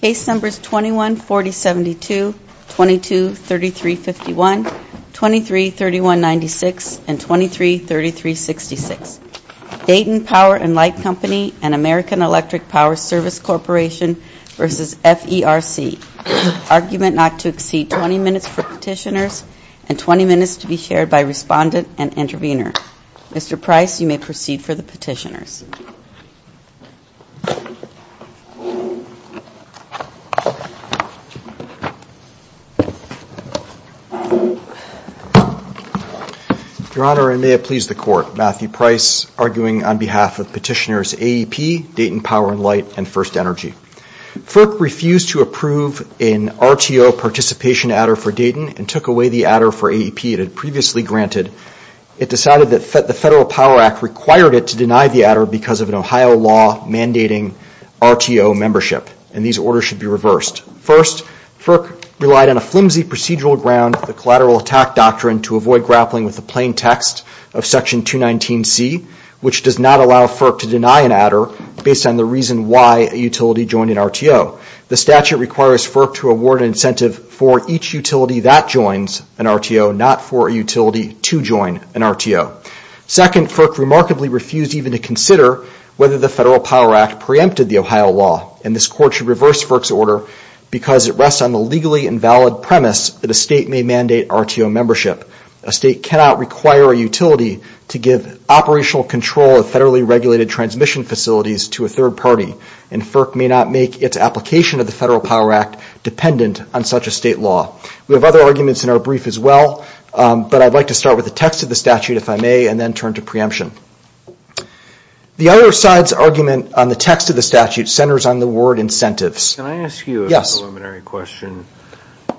Case Numbers 21-4072, 22-3351, 23-3196, and 23-3366 Dayton Power and Light Company and American Electric Power Service Corporation v. FERC Argument not to exceed 20 minutes for Petitioners and 20 minutes to be shared by Respondent and Intervenor Mr. Price you may proceed for the Petitioners. Your Honor, I may have pleased the Court. Matthew Price arguing on behalf of Petitioners AEP, Dayton Power and Light, and First Energy. FERC refused to approve an RTO participation adder for Dayton and took away the adder for AEP it previously granted. It decided that the Federal Power Act required it to deny the adder because of an Ohio law mandating RTO membership. These orders should be reversed. First, FERC relied on a flimsy procedural ground, the Collateral Attack Doctrine, to avoid grappling with the plain text of Section 219C which does not allow FERC to deny an adder based on the reason why a utility joined an RTO. The statute requires FERC to award an incentive for each utility that joins an RTO, not for a utility to join an RTO. Second, FERC remarkably refused even to consider whether the Federal Power Act preempted the Ohio law and this Court should reverse FERC's order because it rests on the legally invalid premise that a state may mandate RTO membership. A state cannot require a utility to give operational control of federally regulated transmission facilities to a third party and FERC may not make its application of the Federal State Law. We have other arguments in our brief as well, but I'd like to start with the text of the statute if I may and then turn to preemption. The other side's argument on the text of the statute centers on the word incentives. Can I ask you a preliminary question?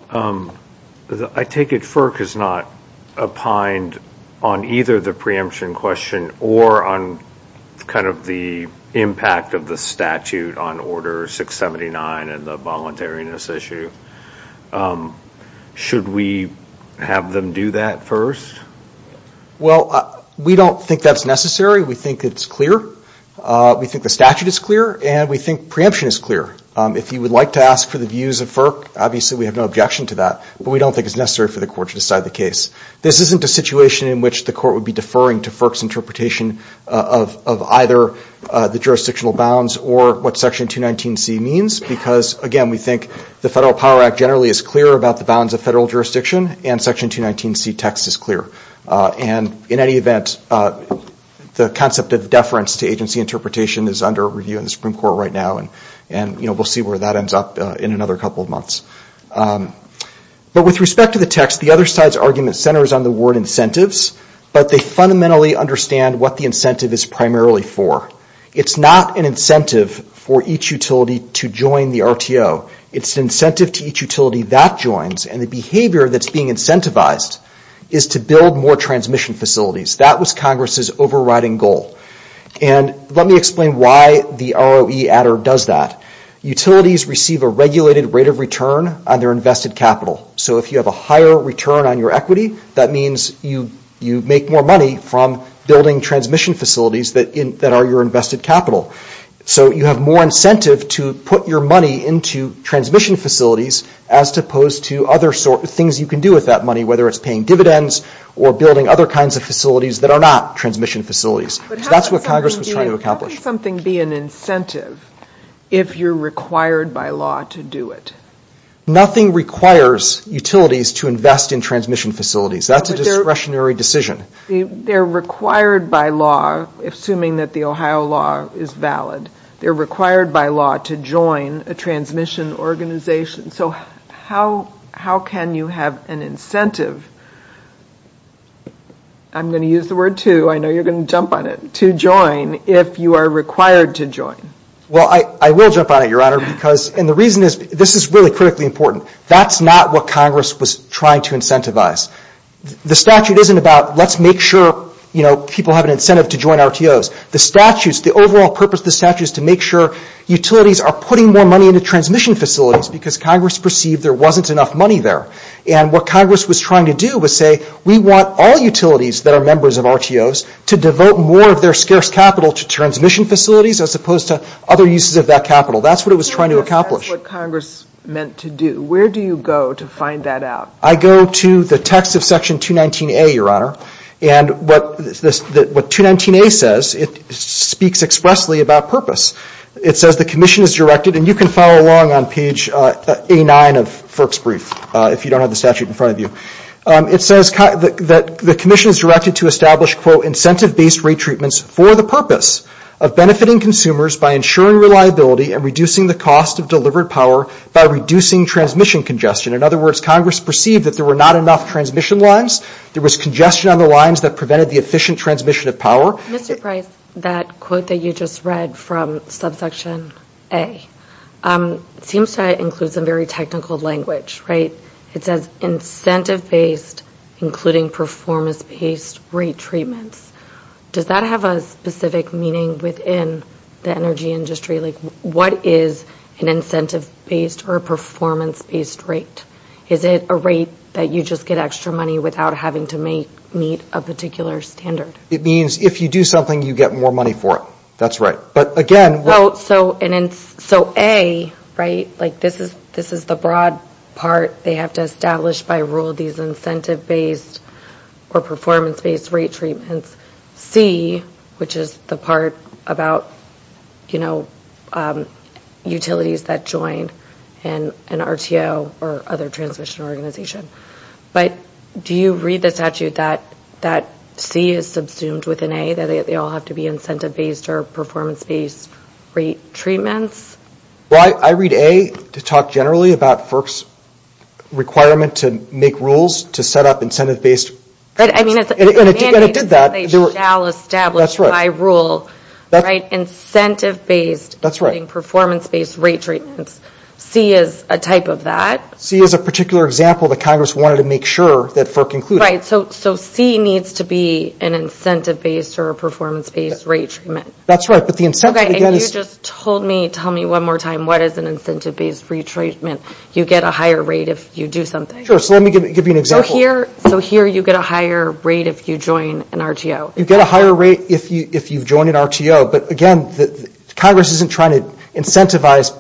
I take it FERC is not opined on either the preemption question or on the impact of the statute on Order 679 and the voluntariness issue. Should we have them do that first? Well, we don't think that's necessary. We think it's clear. We think the statute is clear and we think preemption is clear. If you would like to ask for the views of FERC, obviously we have no objection to that, but we don't think it's necessary for the Court to decide the case. This isn't a situation in which the Court would be deferring to FERC's interpretation of either the jurisdictional bounds or what Section 219C means because, again, we think the Federal Power Act generally is clear about the bounds of federal jurisdiction and Section 219C text is clear. In any event, the concept of deference to agency interpretation is under review in the Supreme Court right now. We'll see where that ends up in another couple of months. With respect to the text, the other side's argument centers on the word incentives, but they fundamentally understand what the incentive is primarily for. It's not an incentive for each utility to join the RTO. It's an incentive to each utility that joins, and the behavior that's being incentivized is to build more transmission facilities. That was Congress's overriding goal. Let me explain why the ROE Adder does that. Utilities receive a regulated rate of return on their invested capital. If you have a higher return on your equity, that means you make more money from building transmission facilities that are your invested capital. So you have more incentive to put your money into transmission facilities as opposed to other things you can do with that money, whether it's paying dividends or building other kinds of facilities that are not transmission facilities. That's what Congress was trying to accomplish. But how can something be an incentive if you're required by law to do it? Nothing requires utilities to invest in transmission facilities. That's a discretionary decision. They're required by law, assuming that the Ohio law is valid, they're required by law to join a transmission organization. So how can you have an incentive, I'm going to use the word to, I know you're going to jump on it, to join if you are required to join? Well, I will jump on it, Your Honor, because, and the reason is, this is really critically important. That's not what Congress was trying to incentivize. The statute isn't about let's make sure people have an incentive to join RTOs. The overall purpose of the statute is to make sure utilities are putting more money into transmission facilities because Congress perceived there wasn't enough money there. And what Congress was trying to do was say, we want all utilities that are members of RTOs to devote more of their scarce capital to transmission facilities as opposed to other uses of that capital. That's what it was trying to accomplish. That's what Congress meant to do. Where do you go to find that out? I go to the text of Section 219A, Your Honor, and what 219A says, it speaks expressly about purpose. It says the commission is directed, and you can follow along on page 89 of Firk's brief if you don't have the statute in front of you. It says that the commission is directed to establish, quote, incentive-based rate treatments for the purpose of benefiting consumers by ensuring reliability and reducing the cost of delivered power by reducing transmission congestion. In other words, Congress perceived that there were not enough transmission lines. There was congestion on the lines that prevented the efficient transmission of power. Mr. Price, that quote that you just read from subsection A, it seems to include some very technical language, right? It says incentive-based, including performance-based rate treatments. Does that have a specific meaning within the energy industry? Like, what is an incentive-based or a performance-based rate? Is it a rate that you just get extra money without having to meet a particular standard? It means if you do something, you get more money for it. That's right. But, again, what So A, right, like this is the broad part. They have to establish by rule these incentive-based or performance-based rate treatments. C, which is the part about, you know, utilities that join an RTO or other transmission organization. But do you read the statute that C is subsumed with an A, that they all have to be incentive-based or performance-based rate treatments? Well, I read A to talk generally about FERC's requirement to make rules to set up incentive-based treatments. And it did that. They shall establish by rule, right, incentive-based, including performance-based rate treatments. C is a type of that. C is a particular example that Congress wanted to make sure that FERC included. Right. So C needs to be an incentive-based or a performance-based rate treatment. That's right. But the incentive, again, is Okay. And you just told me, tell me one more time, what is an incentive-based rate treatment? You get a higher rate if you do something. Sure. So let me give you an example. So here you get a higher rate if you join an RTO. You get a higher rate if you join an RTO. But, again, Congress isn't trying to incentivize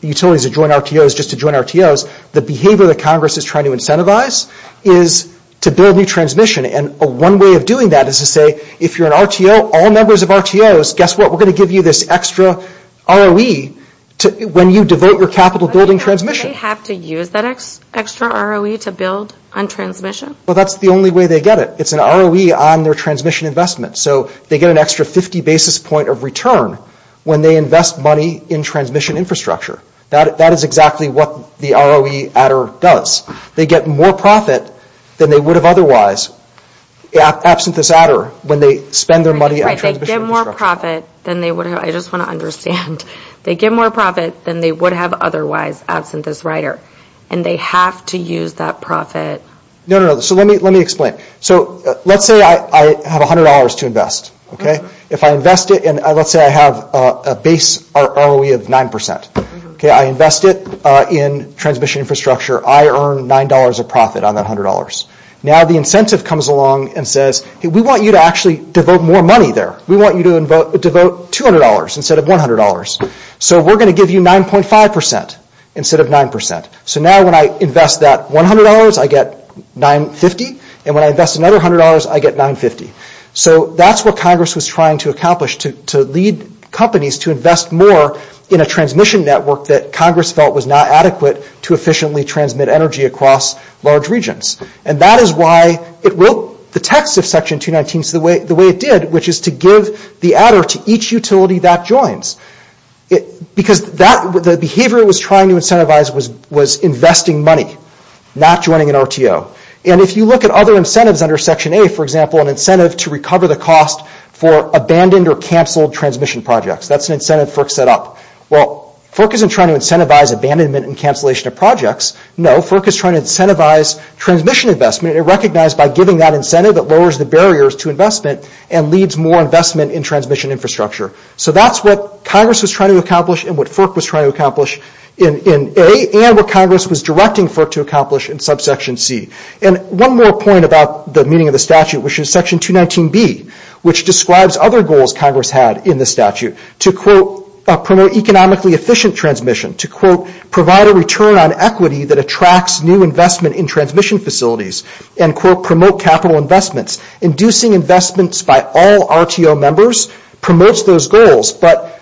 utilities that join RTOs just to join RTOs. The behavior that Congress is trying to incentivize is to build new transmission. And one way of doing that is to say, if you're an RTO, all members of RTOs, guess what? We're going to give you this extra ROE when you devote your capital building transmission. But they have to use that extra ROE to build on transmission? Well, that's the only way they get it. It's an ROE on their transmission investment. So they get an extra 50 basis point of return when they invest money in transmission infrastructure. That is exactly what the ROE adder does. They get more profit than they would have otherwise absent this adder when they spend their money on transmission infrastructure. Right, right. They get more profit than they would have. I just want to understand. They get more profit than they would have otherwise absent this rider. And they have to use that No, no, no. So let me explain. So let's say I have $100 to invest. If I invest it and let's say I have a base ROE of 9%. Okay, I invest it in transmission infrastructure. I earn $9 of profit on that $100. Now the incentive comes along and says, we want you to actually devote more money there. We want you to devote $200 instead of $100. So we're going to give you 9.5% instead of 9%. So now when I invest that $100, I get $950. And when I invest another $100, I get $950. So that's what Congress was trying to accomplish, to lead companies to invest more in a transmission network that Congress felt was not adequate to efficiently transmit energy across large regions. And that is why it wrote the text of Section 219 the way it did, which is to give the adder to each utility that joins. Because the behavior it was trying to incentivize was investing money, not joining an RTO. And if you look at other incentives under Section A, for example, an incentive to recover the cost for abandoned or canceled transmission projects. That's an incentive FERC set up. Well, FERC isn't trying to incentivize abandonment and cancellation of projects. No, FERC is trying to incentivize transmission investment and recognize by giving that incentive that lowers the barriers to investment and leads more investment in transmission infrastructure. So that's what Congress was trying to accomplish and what FERC was trying to accomplish in A, and what Congress was directing FERC to accomplish in subsection C. And one more point about the meaning of the statute, which is Section 219B, which describes other goals Congress had in the statute to promote economically efficient transmission, to provide a return on equity that attracts new investment in transmission facilities, and promote capital investments. Inducing investments by all RTO members promotes those goals, but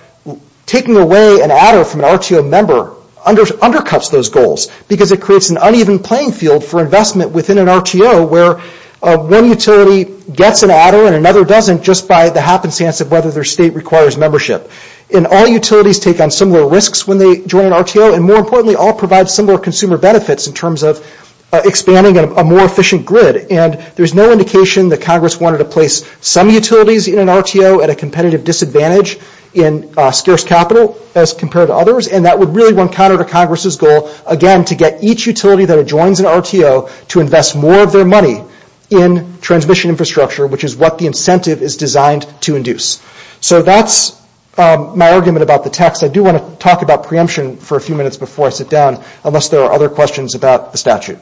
taking away an adder from an RTO member undercuts those goals, because it creates an uneven playing field for investment within an RTO where one utility gets an adder and another doesn't just by the happenstance of whether their state requires membership. And all utilities take on similar risks when they join an RTO, and more importantly all provide similar consumer benefits in terms of expanding a more efficient grid. And there's no indication that Congress wanted to place some utilities in an RTO at a competitive disadvantage in scarce capital as compared to others, and that would really encounter Congress's goal, again, to get each utility that adjoins an RTO to invest more of their money in transmission infrastructure, which is what the incentive is designed to induce. So that's my argument about the text. I do want to talk about preemption for a few minutes before I sit down, unless there are other questions about the statute.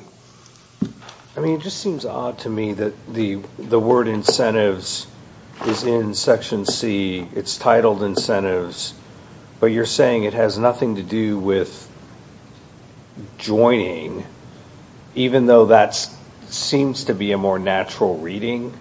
I mean it just seems odd to me that the word incentives is in Section C. It's titled incentives, but you're saying it has nothing to do with joining, even though that seems to be a more natural reading.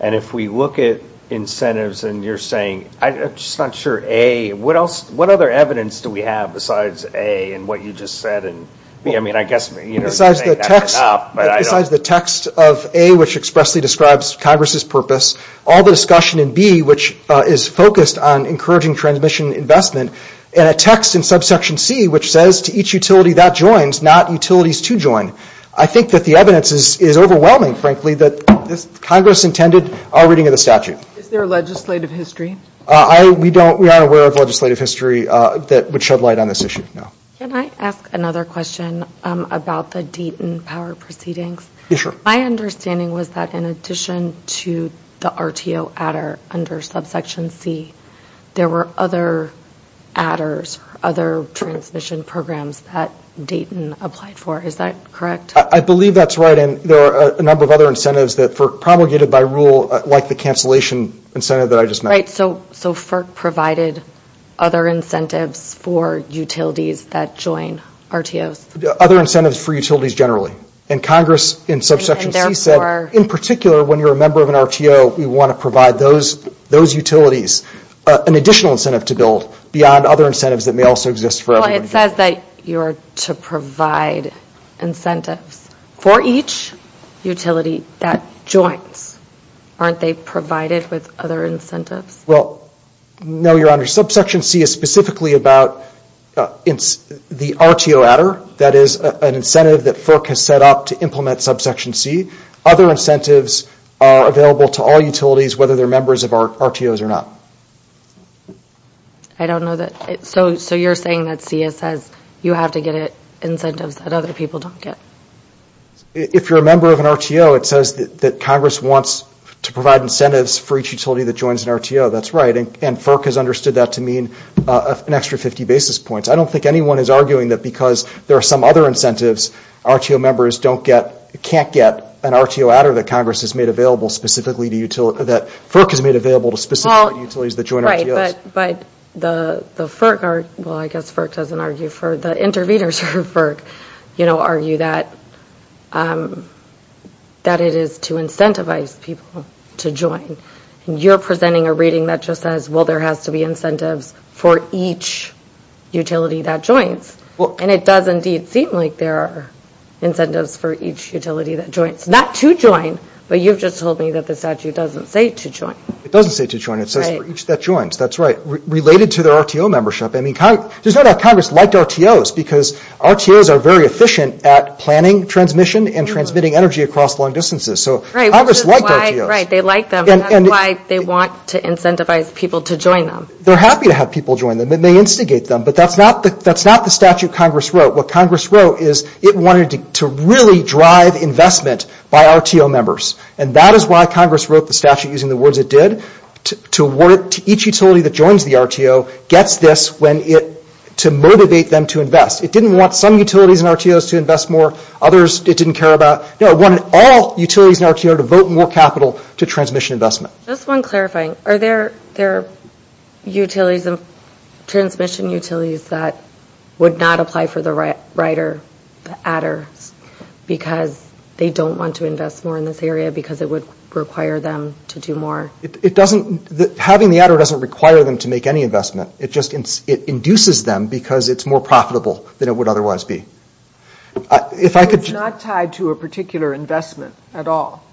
And if we look at incentives, and you're saying, I'm just not sure A, what other evidence do we have besides A and what you just said, and B, I mean I guess you're saying that's enough, but I don't. Besides the text of A, which expressly describes Congress's purpose, all the discussion in B, which is focused on encouraging transmission investment, and a text in subsection C, which says to each utility that joins, not utilities to join, I think that the evidence is overwhelming, frankly, that Congress intended our reading of the statute. Is there a legislative history? We don't, we aren't aware of legislative history that would shed light on this issue, no. Can I ask another question about the Deaton power proceedings? Yeah, sure. My understanding was that in addition to the RTO adder under subsection C, there were other adders, other transmission programs that Deaton applied for, is that correct? I believe that's right, and there are a number of other incentives that FERC promulgated by rule, like the cancellation incentive that I just mentioned. So FERC provided other incentives for utilities that join RTOs? Other incentives for utilities generally, and Congress in subsection C said, in particular when you're a member of an RTO, we want to provide those utilities an additional incentive to build beyond other incentives that may also exist for everyone. Well, it says that you're to provide incentives for each utility that joins, aren't they provided with other incentives? Well, no, your honor, subsection C is specifically about the RTO adder, that is an incentive that FERC has set up to implement subsection C. Other incentives are available to all utilities, whether they're members of RTOs or not. I don't know that, so you're saying that CS has, you have to get incentives that other people don't get? If you're a member of an RTO, it says that Congress wants to provide incentives for each utility that joins an RTO, that's right, and FERC has understood that to mean an extra 50 basis points. I don't think anyone is arguing that because there are some other incentives, RTO members don't get, can't get an RTO adder that Congress has made available specifically to, that FERC has made available to specific utilities that join RTOs. Right, but the FERC, well, I guess FERC doesn't argue for, the intervenors for FERC, you know, doesn't argue that it is to incentivize people to join, and you're presenting a reading that just says, well, there has to be incentives for each utility that joins, and it does indeed seem like there are incentives for each utility that joins, not to join, but you've just told me that the statute doesn't say to join. It doesn't say to join, it says for each that joins, that's right, related to their RTO membership. I mean, Congress, there's no doubt Congress liked RTOs because RTOs are very efficient at planning transmission and transmitting energy across long distances, so Congress liked RTOs. Right, they like them, and that's why they want to incentivize people to join them. They're happy to have people join them, it may instigate them, but that's not the statute Congress wrote. What Congress wrote is it wanted to really drive investment by RTO members, and that is why Congress wrote the statute using the words it did, to each utility that joins the RTO gets this to motivate them to invest. It didn't want some utilities and RTOs to invest more, others it didn't care about. No, it wanted all utilities and RTOs to vote more capital to transmission investment. Just one clarifying, are there transmission utilities that would not apply for the rider, the adder, because they don't want to invest more in this area because it would require them to do more? It doesn't, having the adder doesn't require them to make any investment, it just induces them because it's more profitable than it would otherwise be. If I could just... It's not tied to a particular investment at all?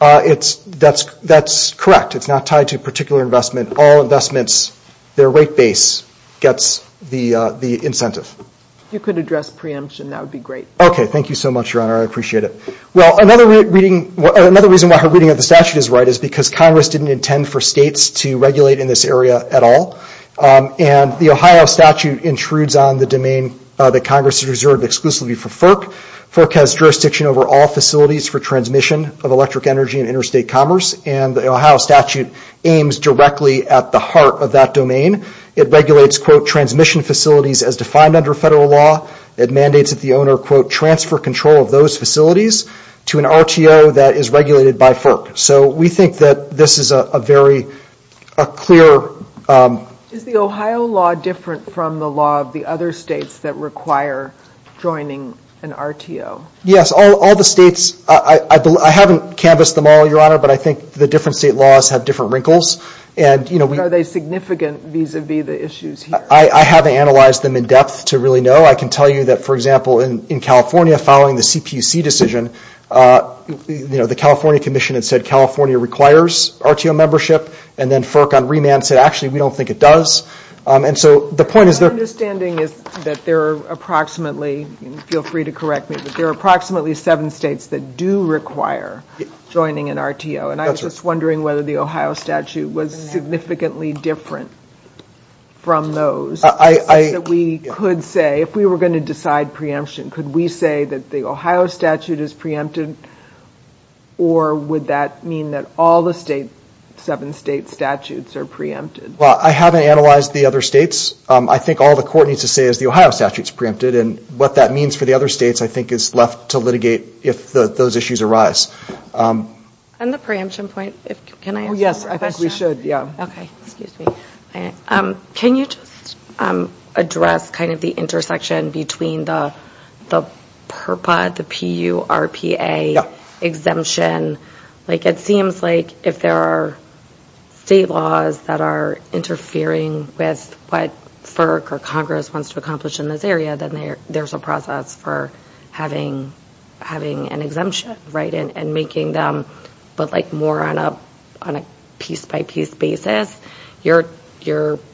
That's correct, it's not tied to a particular investment, all investments, their rate base gets the incentive. You could address preemption, that would be great. Okay, thank you so much, Your Honor, I appreciate it. Well, another reason why her reading of the statute is right is because Congress didn't intend for states to regulate in this area at all. The Ohio statute intrudes on the domain that Congress has reserved exclusively for FERC. FERC has jurisdiction over all facilities for transmission of electric energy and interstate commerce and the Ohio statute aims directly at the heart of that domain. It regulates, quote, transmission facilities as defined under federal law, it mandates that the owner, quote, transfer control of those facilities to an RTO that is regulated by FERC. So we think that this is a very clear... Is the Ohio law different from the law of the other states that require joining an RTO? Yes, all the states, I haven't canvassed them all, Your Honor, but I think the different state laws have different wrinkles. Are they significant vis-a-vis the issues here? I haven't analyzed them in depth to really know. I can tell you that, for example, in California, following the CPUC decision, the California Commission had said California requires RTO membership and then FERC on remand said actually we don't think it does. And so the point is... My understanding is that there are approximately, feel free to correct me, but there are approximately seven states that do require joining an RTO and I was just wondering whether the Ohio statute was significantly different from those. We could say, if we were going to decide preemption, could we say that the Ohio statute is preempted or would that mean that all the seven state statutes are preempted? Well, I haven't analyzed the other states. I think all the court needs to say is the Ohio statute is preempted and what that means for the other states, I think, is left to litigate if those issues arise. And the preemption point, can I answer that question? Yes, I think we should, yeah. Okay, excuse me. Can you just address kind of the intersection between the PURPA, the P-U-R-P-A exemption? It seems like if there are state laws that are interfering with what FERC or Congress wants to accomplish in this area, then there's a process for having an exemption, right? And making them more on a piece-by-piece basis, you're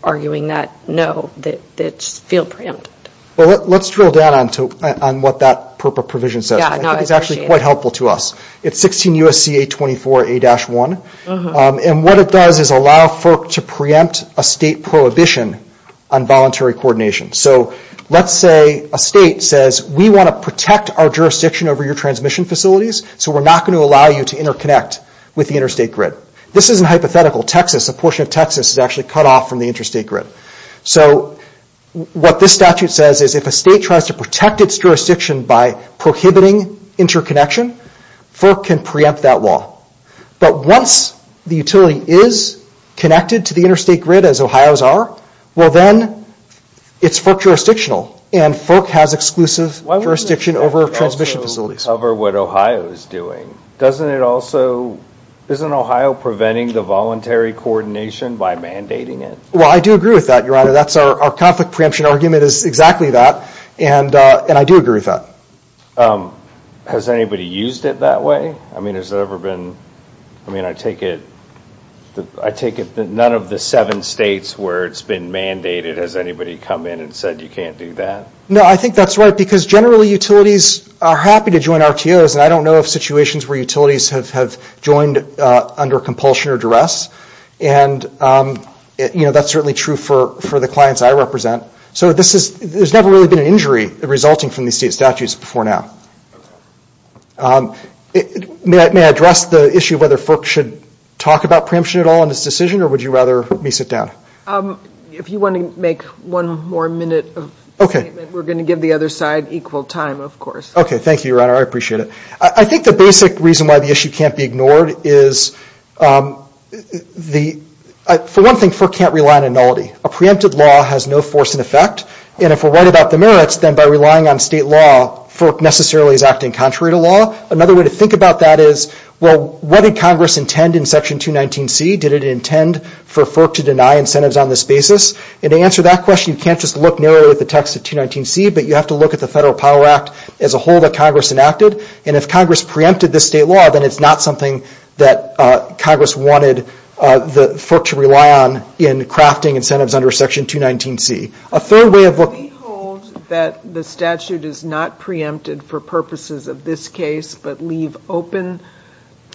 arguing that no, that it's field preempted. Let's drill down on what that PURPA provision says. I think it's actually quite helpful to us. It's 16 U.S.C.A. 24A-1 and what it does is allow FERC to preempt a state prohibition on voluntary coordination. So let's say a state says, we want to protect our jurisdiction over your transmission facilities so we're not going to allow you to interconnect with the interstate grid. This isn't hypothetical. Texas, a portion of Texas is actually cut off from the interstate grid. So what this statute says is if a state tries to protect its jurisdiction by prohibiting interconnection, FERC can preempt that law. But once the utility is connected to the interstate grid as Ohio's are, well then it's FERC jurisdictional and FERC has exclusive jurisdiction over transmission facilities. But that doesn't cover what Ohio is doing, doesn't it also, isn't Ohio preventing the voluntary coordination by mandating it? Well I do agree with that, your honor. That's our conflict preemption argument is exactly that and I do agree with that. Has anybody used it that way? I mean has there ever been, I mean I take it, I take it that none of the seven states where it's been mandated, has anybody come in and said you can't do that? No, I think that's right because generally utilities are happy to join RTOs and I don't know of situations where utilities have joined under compulsion or duress and that's certainly true for the clients I represent. So there's never really been an injury resulting from these state statutes before now. May I address the issue of whether FERC should talk about preemption at all in this decision or would you rather me sit down? If you want to make one more minute of statement, we're going to give the other side equal time of course. Okay, thank you, your honor, I appreciate it. I think the basic reason why the issue can't be ignored is for one thing FERC can't rely on annullity. A preempted law has no force in effect and if we're right about the merits, then by relying on state law, FERC necessarily is acting contrary to law. Another way to think about that is, well what did Congress intend in section 219C, did it intend for FERC to deny incentives on this basis? And to answer that question, you can't just look narrowly at the text of 219C, but you have to look at the Federal Power Act as a whole that Congress enacted and if Congress preempted this state law, then it's not something that Congress wanted FERC to rely on in crafting incentives under section 219C. A third way of looking at it is... Do we hold that the statute is not preempted for purposes of this case but leave open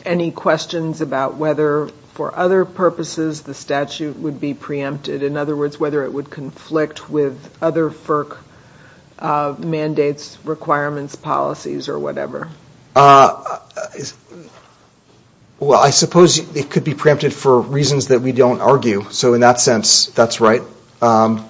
any questions about whether for other purposes the statute would be preempted? In other words, whether it would conflict with other FERC mandates, requirements, policies or whatever? Well, I suppose it could be preempted for reasons that we don't argue, so in that sense that's right. But...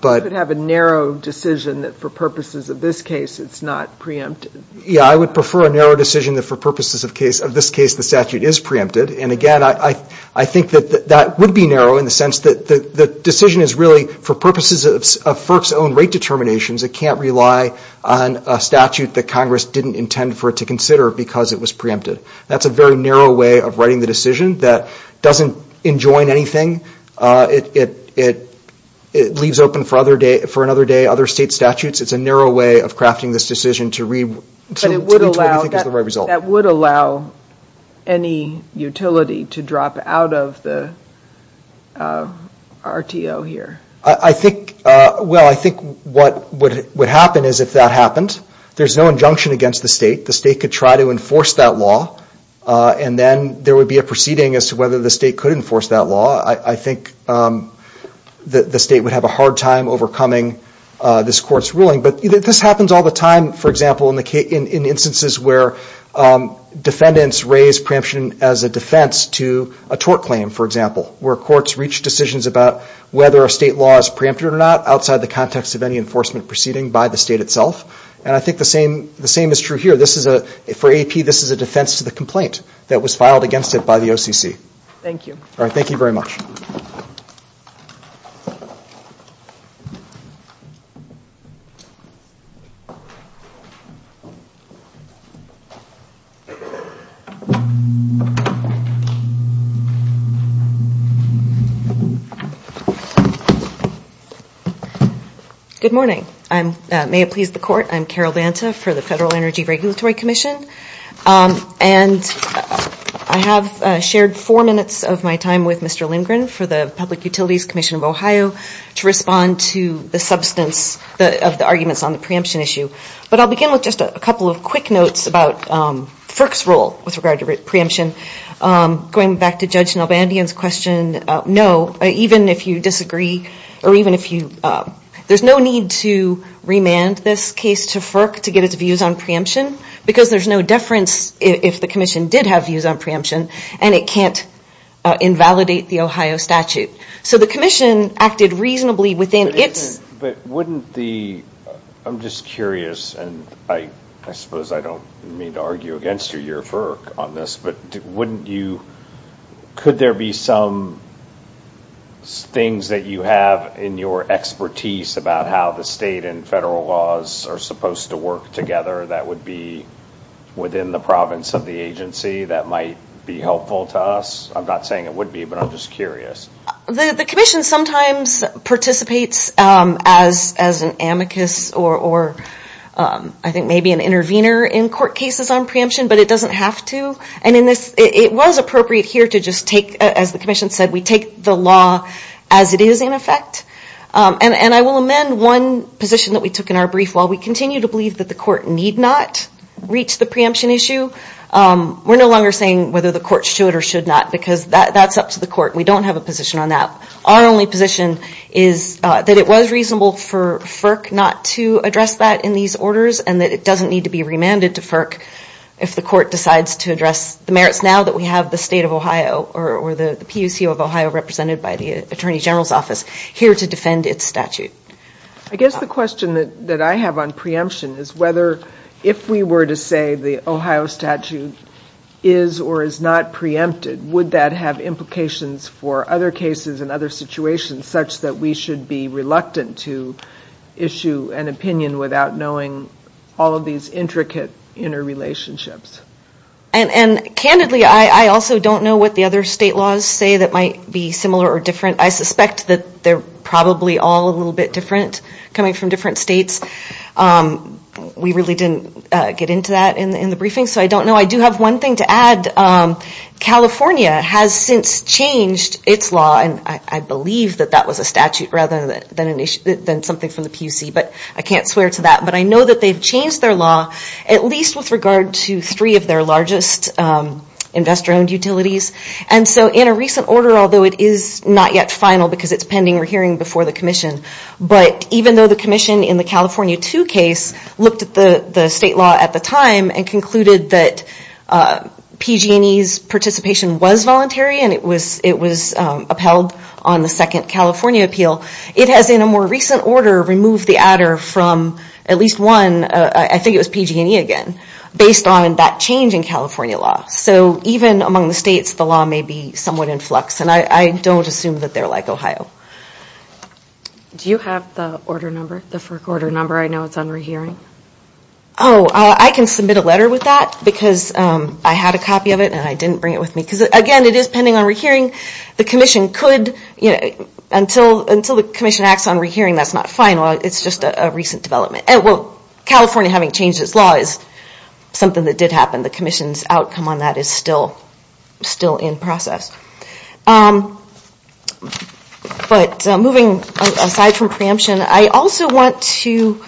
You could have a narrow decision that for purposes of this case it's not preempted. Yeah, I would prefer a narrow decision that for purposes of this case the statute is preempted. And again, I think that that would be narrow in the sense that the decision is really for purposes of FERC's own rate determinations, it can't rely on a statute that Congress didn't intend for it to consider because it was preempted. That's a very narrow way of writing the decision that doesn't enjoin anything, it leaves open for another day other state statutes, it's a narrow way of crafting this decision to read... That would allow any utility to drop out of the RTO here? I think, well, I think what would happen is if that happened, there's no injunction against the state, the state could try to enforce that law and then there would be a proceeding as to whether the state could enforce that law, I think the state would have a hard time overcoming this court's ruling. This happens all the time, for example, in instances where defendants raise preemption as a defense to a tort claim, for example, where courts reach decisions about whether a state law is preempted or not outside the context of any enforcement proceeding by the state itself. And I think the same is true here, for AP this is a defense to the complaint that was filed against it by the OCC. Thank you. All right, thank you very much. Good morning, may it please the court, I'm Carol Banta for the Federal Energy Regulatory Commission and I have shared four minutes of my time with Mr. Lindgren for the Public Service on the preemption issue. But I'll begin with just a couple of quick notes about FERC's role with regard to preemption. Going back to Judge Nelbandian's question, no, even if you disagree or even if you, there's no need to remand this case to FERC to get its views on preemption because there's no deference if the commission did have views on preemption and it can't invalidate the Ohio statute. So the commission acted reasonably within its... But wouldn't the, I'm just curious and I suppose I don't mean to argue against you, your FERC on this, but wouldn't you, could there be some things that you have in your expertise about how the state and federal laws are supposed to work together that would be within the province of the agency that might be helpful to us? I'm not saying it would be, but I'm just curious. The commission sometimes participates as an amicus or I think maybe an intervener in court cases on preemption, but it doesn't have to. And in this, it was appropriate here to just take, as the commission said, we take the law as it is in effect. And I will amend one position that we took in our brief. While we continue to believe that the court need not reach the preemption issue, we're no longer saying whether the court should or should not because that's up to the court. We don't have a position on that. Our only position is that it was reasonable for FERC not to address that in these orders and that it doesn't need to be remanded to FERC if the court decides to address the merits now that we have the state of Ohio or the PUC of Ohio represented by the Attorney General's Office here to defend its statute. I guess the question that I have on preemption is whether if we were to say the Ohio statute is or is not preempted, would that have implications for other cases and other situations such that we should be reluctant to issue an opinion without knowing all of these intricate interrelationships? And candidly, I also don't know what the other state laws say that might be similar or different. I suspect that they're probably all a little bit different coming from different states. We really didn't get into that in the briefing, so I don't know. I do have one thing to add. California has since changed its law, and I believe that that was a statute rather than something from the PUC, but I can't swear to that. But I know that they've changed their law at least with regard to three of their largest investor-owned utilities. And so in a recent order, although it is not yet final because it's pending or hearing before the commission, but even though the commission in the California 2 case looked at the state law at the time and concluded that PG&E's participation was voluntary and it was upheld on the second California appeal, it has in a more recent order removed the adder from at least one, I think it was PG&E again, based on that change in California law. So even among the states, the law may be somewhat in flux, and I don't assume that they're like Ohio. Do you have the order number, the FERC order number? I know it's on rehearing. Oh, I can submit a letter with that because I had a copy of it and I didn't bring it with me. Because again, it is pending on rehearing. The commission could, until the commission acts on rehearing, that's not final. It's just a recent development. Well, California having changed its law is something that did happen. The commission's outcome on that is still in process. But moving aside from preemption, I also want to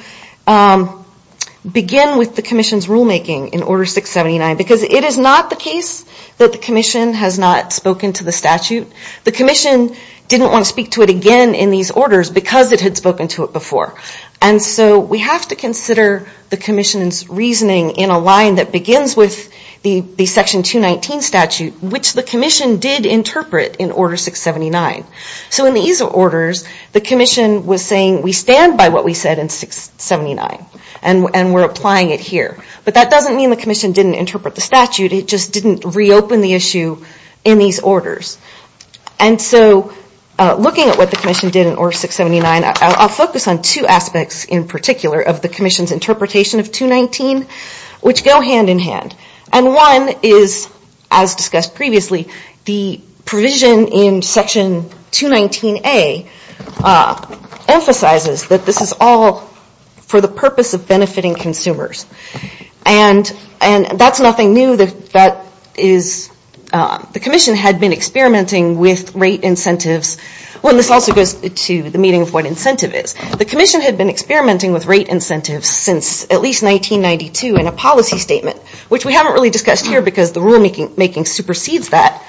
begin with the commission's rulemaking in Order 679 because it is not the case that the commission has not spoken to the statute. The commission didn't want to speak to it again in these orders because it had spoken to it before. And so we have to consider the commission's reasoning in a line that begins with the Section 219 statute, which the commission did interpret in Order 679. So in these orders, the commission was saying, we stand by what we said in 679 and we're applying it here. But that doesn't mean the commission didn't interpret the statute, it just didn't reopen the issue in these orders. And so looking at what the commission did in Order 679, I'll focus on two aspects in particular of the commission's interpretation of 219, which go hand in hand. And one is, as discussed previously, the provision in Section 219A emphasizes that this is all for the purpose of benefiting consumers. And that's nothing new. The commission had been experimenting with rate incentives, and this also goes to the meaning of what incentive is. The commission had been experimenting with rate incentives since at least 1992 in a policy statement, which we haven't really discussed here because the rulemaking supersedes that.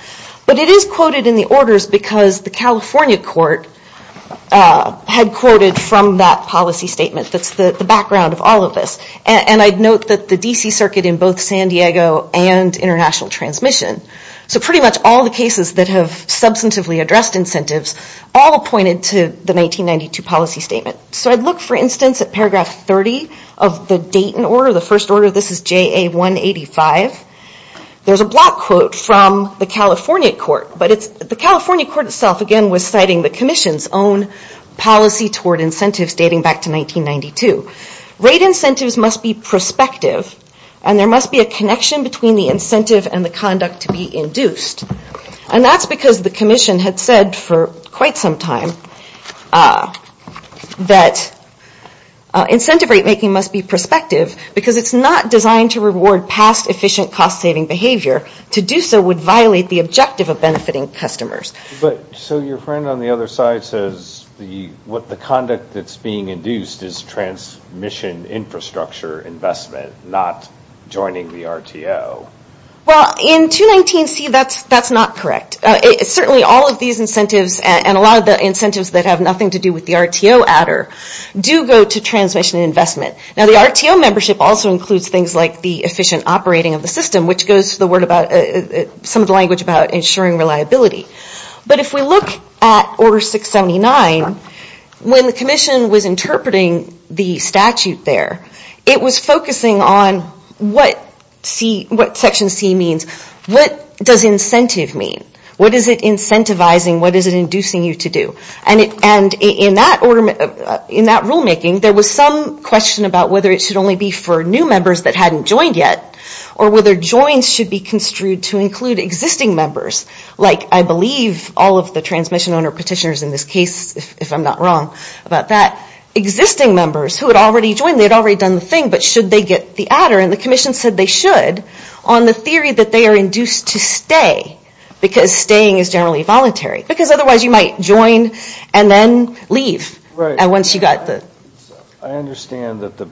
But it is quoted in the orders because the California court had quoted from that policy statement that's the background of all of this. And I'd note that the D.C. Circuit in both San Diego and International Transmission, so pretty much all the cases that have substantively addressed incentives, all pointed to the 1992 policy statement. So I'd look, for instance, at paragraph 30 of the Dayton order, the first order. This is JA 185. There's a block quote from the California court, but the California court itself again was citing the commission's own policy toward incentives dating back to 1992. Rate incentives must be prospective, and there must be a connection between the incentive and the conduct to be induced. And that's because the commission had said for quite some time that incentive rate making must be prospective because it's not designed to reward past efficient cost-saving behavior. To do so would violate the objective of benefiting customers. But, so your friend on the other side says the, what the conduct that's being induced is transmission infrastructure investment, not joining the RTO. Well, in 219C that's not correct. Certainly all of these incentives and a lot of the incentives that have nothing to do with the RTO adder do go to transmission investment. Now the RTO membership also includes things like the efficient operating of the system, which goes to the word about, some of the language about ensuring reliability. But if we look at order 679, when the commission was interpreting the statute there, it was focusing on what section C means. What does incentive mean? What is it incentivizing? What is it inducing you to do? And in that rule making there was some question about whether it should only be for new members that hadn't joined yet, or whether joins should be construed to include existing members. Like I believe all of the transmission owner petitioners in this case, if I'm not wrong about that, existing members who had already joined, they had already done the thing, but should they get the adder? And the commission said they should on the theory that they are induced to stay because staying is generally voluntary. Because otherwise you might join and then leave once you got the... I understand that the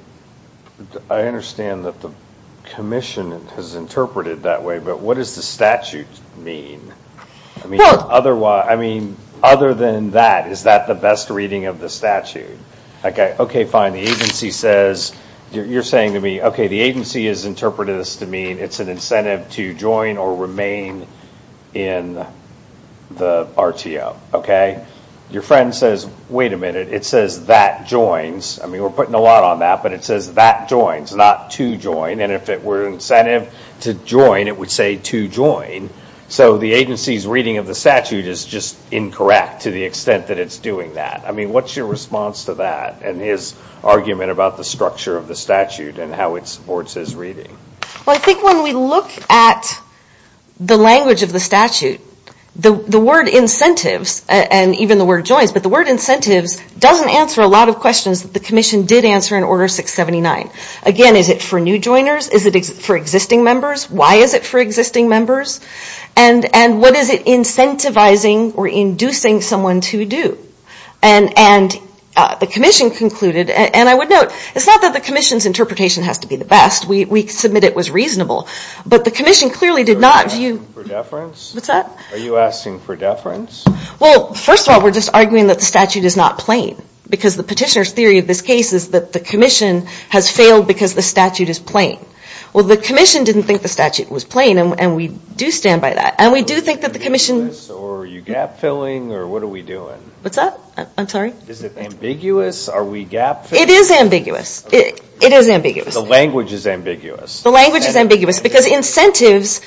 commission has interpreted it that way, but what does the statute mean? Other than that, is that the best reading of the statute? Okay, fine, the agency says... You're saying to me, okay, the agency has interpreted this to mean it's an incentive to join or remain in the RTO, okay? Your friend says, wait a minute, it says that joins, I mean we're putting a lot on that, but it says that joins, not to join, and if it were an incentive to join, it would say to join, so the agency's reading of the statute is just incorrect to the extent that it's doing that. I mean, what's your response to that and his argument about the structure of the statute and how it supports his reading? Well, I think when we look at the language of the statute, the word incentives and even the word joins, but the word incentives doesn't answer a lot of questions that the commission did answer in Order 679. Again, is it for new joiners? Is it for existing members? Why is it for existing members? And what is it incentivizing or inducing someone to do? And the commission concluded, and I would note, it's not that the commission's interpretation has to be the best. We submit it was reasonable, but the commission clearly did not view... What's that? Are you asking for deference? Well, first of all, we're just arguing that the statute is not plain, because the petitioner's theory of this case is that the commission has failed because the statute is plain. Well, the commission didn't think the statute was plain, and we do stand by that, and we do think that the commission... Is it ambiguous, or are you gap-filling, or what are we doing? What's that? I'm sorry? Is it ambiguous? Are we gap-filling? It is ambiguous. It is ambiguous. The language is ambiguous. The language is ambiguous, because incentives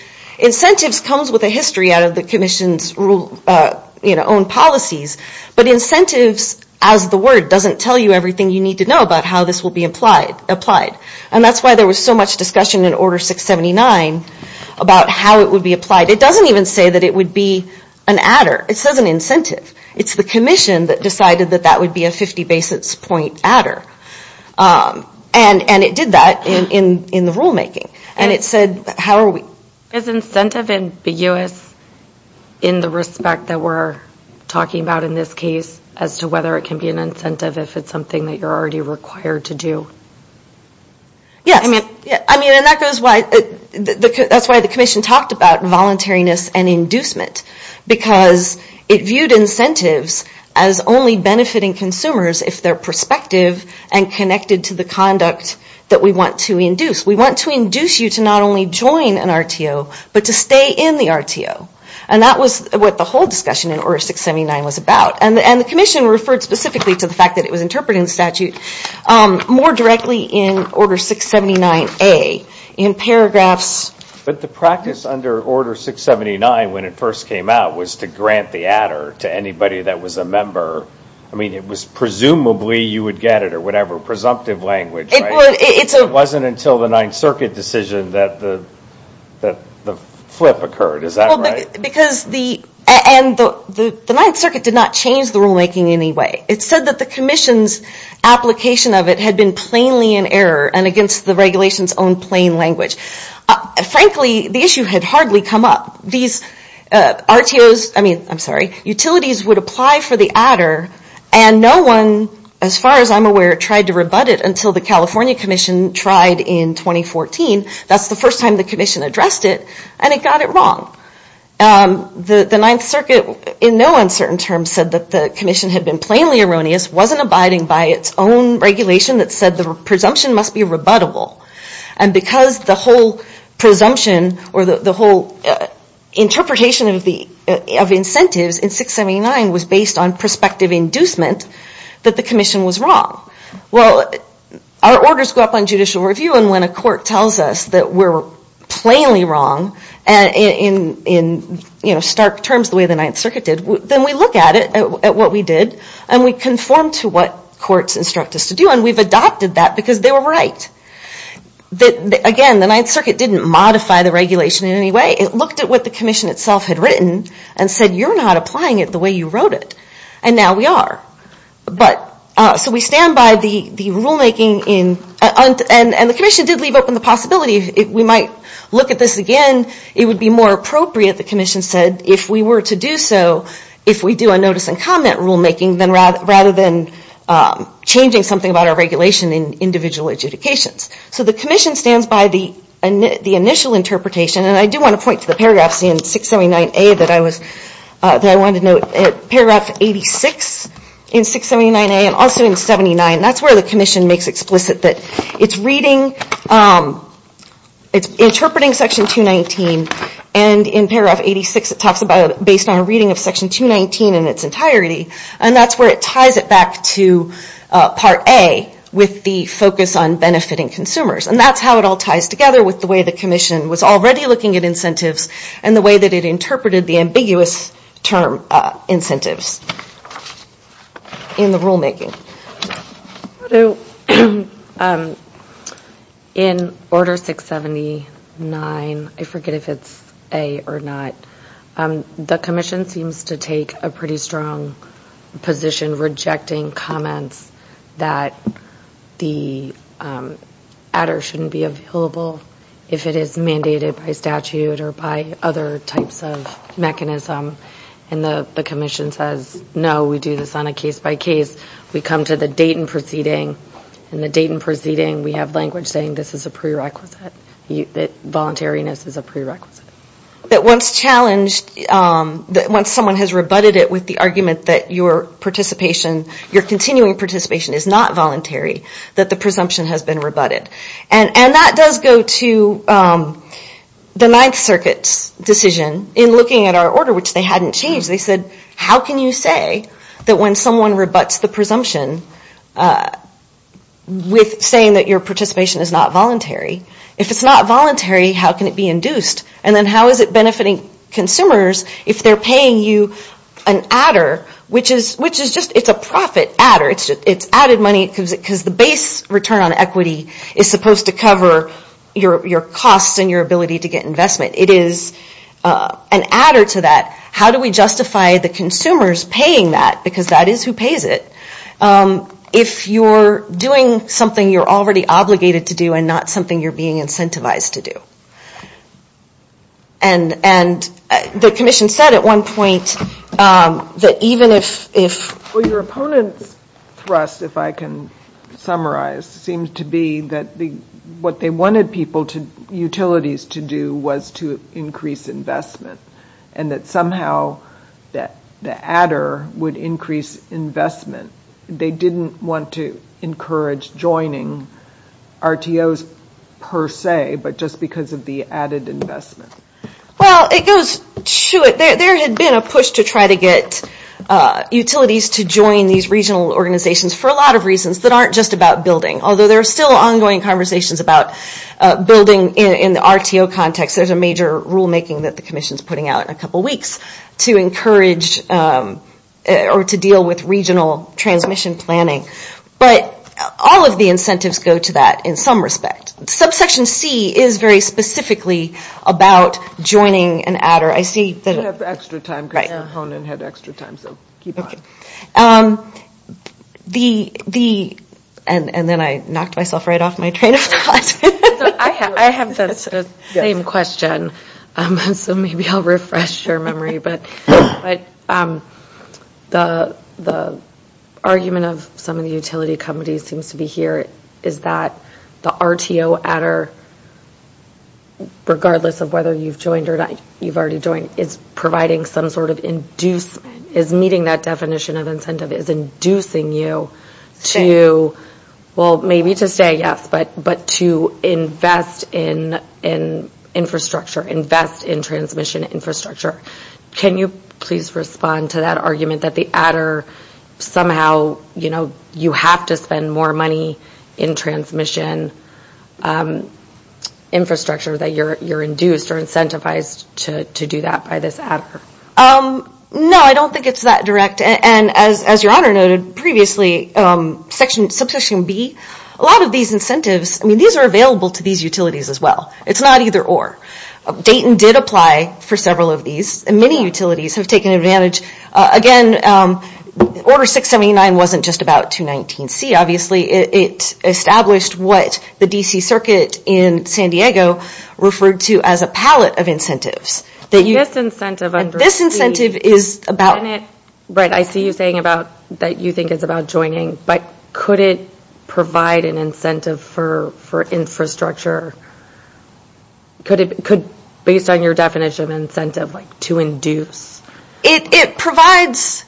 comes with a history out of the commission's own policies, but incentives, as the word, doesn't tell you everything you need to know about how this will be applied. And that's why there was so much discussion in Order 679 about how it would be applied. It doesn't even say that it would be an adder. It says an incentive. It's the commission that decided that that would be a 50-basis point adder, and it did that in the rulemaking, and it said, how are we... Is incentive ambiguous in the respect that we're talking about in this case as to whether it can be an incentive if it's something that you're already required to do? Yes. I mean, and that's why the commission talked about voluntariness and inducement, because it viewed incentives as only benefiting consumers if they're prospective and connected to the conduct that we want to induce. We want to induce you to not only join an RTO, but to stay in the RTO. And that was what the whole discussion in Order 679 was about, and the commission referred specifically to the fact that it was interpreting the statute more directly in Order 679A in paragraphs... to anybody that was a member. I mean, it was presumably you would get it or whatever, presumptive language, right? It's a... It wasn't until the Ninth Circuit decision that the flip occurred. Is that right? Well, because the... And the Ninth Circuit did not change the rulemaking in any way. It said that the commission's application of it had been plainly in error and against the regulation's own plain language. Frankly, the issue had hardly come up. These RTOs, I mean, I'm sorry, utilities would apply for the adder, and no one, as far as I'm aware, tried to rebut it until the California Commission tried in 2014. That's the first time the commission addressed it, and it got it wrong. The Ninth Circuit, in no uncertain terms, said that the commission had been plainly erroneous, wasn't abiding by its own regulation that said the presumption must be rebuttable. And because the whole presumption or the whole interpretation of incentives in 679 was based on prospective inducement, that the commission was wrong. Well, our orders go up on judicial review, and when a court tells us that we're plainly wrong in stark terms, the way the Ninth Circuit did, then we look at it, at what we did, and we conform to what courts instruct us to do. And we've adopted that because they were right. Again, the Ninth Circuit didn't modify the regulation in any way. It looked at what the commission itself had written and said, you're not applying it the way you wrote it. And now we are. So we stand by the rulemaking, and the commission did leave open the possibility that we might look at this again. It would be more appropriate, the commission said, if we were to do so, if we do a notice and comment rulemaking, rather than changing something about our regulation in individual adjudications. So the commission stands by the initial interpretation, and I do want to point to the paragraph seen in 679A that I wanted to note, paragraph 86 in 679A and also in 79, that's where the commission makes explicit that it's reading, it's interpreting section 219, and in paragraph 86 it talks about, based on a reading of section 219 in its entirety, and that's where it ties it back to part A with the focus on benefiting consumers. And that's how it all ties together with the way the commission was already looking at incentives and the way that it interpreted the ambiguous term incentives in the rulemaking. In order 679, I forget if it's A or not, the commission seems to take a pretty strong position rejecting comments that the adder shouldn't be available if it is mandated by statute or by other types of mechanism, and the commission says, no, we do this on a case-by-case, we come to the date and proceeding, and the date and proceeding we have language saying this is a prerequisite, that voluntariness is a prerequisite. That once challenged, that once someone has rebutted it with the argument that your participation, your continuing participation is not voluntary, that the presumption has been rebutted. And that does go to the Ninth Circuit's decision in looking at our order, which they hadn't changed. They said, how can you say that when someone rebuts the presumption with saying that your participation is not voluntary, if it's not voluntary, how can it be induced? And then how is it benefiting consumers if they're paying you an adder, which is just it's a profit adder, it's added money because the base return on equity is supposed to cover your costs and your ability to get investment. It is an adder to that. How do we justify the consumers paying that, because that is who pays it, if you're doing something you're already obligated to do and not something you're being incentivized to And the commission said at one point that even if... Well, your opponent's thrust, if I can summarize, seems to be that what they wanted people, utilities to do was to increase investment and that somehow the adder would increase investment. They didn't want to encourage joining RTOs per se, but just because of the added investment. Well, it goes to it. There had been a push to try to get utilities to join these regional organizations for a lot of reasons that aren't just about building, although there are still ongoing conversations about building in the RTO context, there's a major rule-making that the commission's putting out in a couple weeks to encourage or to deal with regional transmission planning. But all of the incentives go to that in some respect. Subsection C is very specifically about joining an adder. I see that... You have extra time because your opponent had extra time, so keep going. And then I knocked myself right off my train of thought. I have the same question, so maybe I'll refresh your memory, but the argument of some of the utility companies seems to be here is that the RTO adder, regardless of whether you've joined or not, you've already joined, is providing some sort of inducement, is meeting that definition of incentive, is inducing you to, well, maybe to stay, yes, but to invest in infrastructure, invest in transmission infrastructure. Can you please respond to that argument that the adder somehow, you know, you have to spend more money in transmission infrastructure that you're induced or incentivized to do that by this adder? No, I don't think it's that direct. And as your honor noted previously, subsection B, a lot of these incentives, I mean, these are available to these utilities as well. It's not either or. Dayton did apply for several of these, and many utilities have taken advantage. Again, Order 679 wasn't just about 219C, obviously. It established what the D.C. Circuit in San Diego referred to as a palette of incentives. This incentive is about... Right, I see you saying that you think it's about joining, but could it provide an incentive for infrastructure? Could, based on your definition of incentive, like to induce? It provides,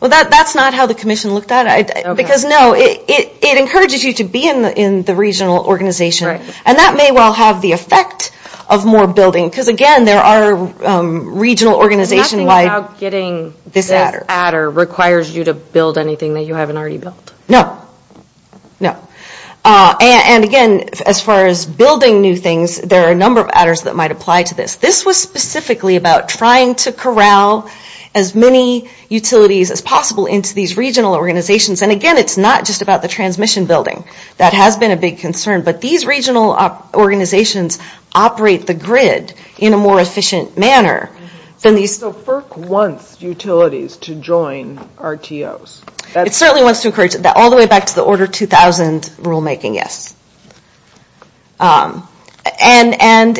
well, that's not how the commission looked at it. Because, no, it encourages you to be in the regional organization, and that may well have the effect of more building. Because, again, there are regional organization-wide... It's nothing about getting this adder requires you to build anything that you haven't already built. No. No. And, again, as far as building new things, there are a number of adders that might apply to this. This was specifically about trying to corral as many utilities as possible into these regional organizations. And, again, it's not just about the transmission building. That has been a big concern. But these regional organizations operate the grid in a more efficient manner than these... So FERC wants utilities to join RTOs. It certainly wants to encourage that, all the way back to the Order 2000 rulemaking, yes. And,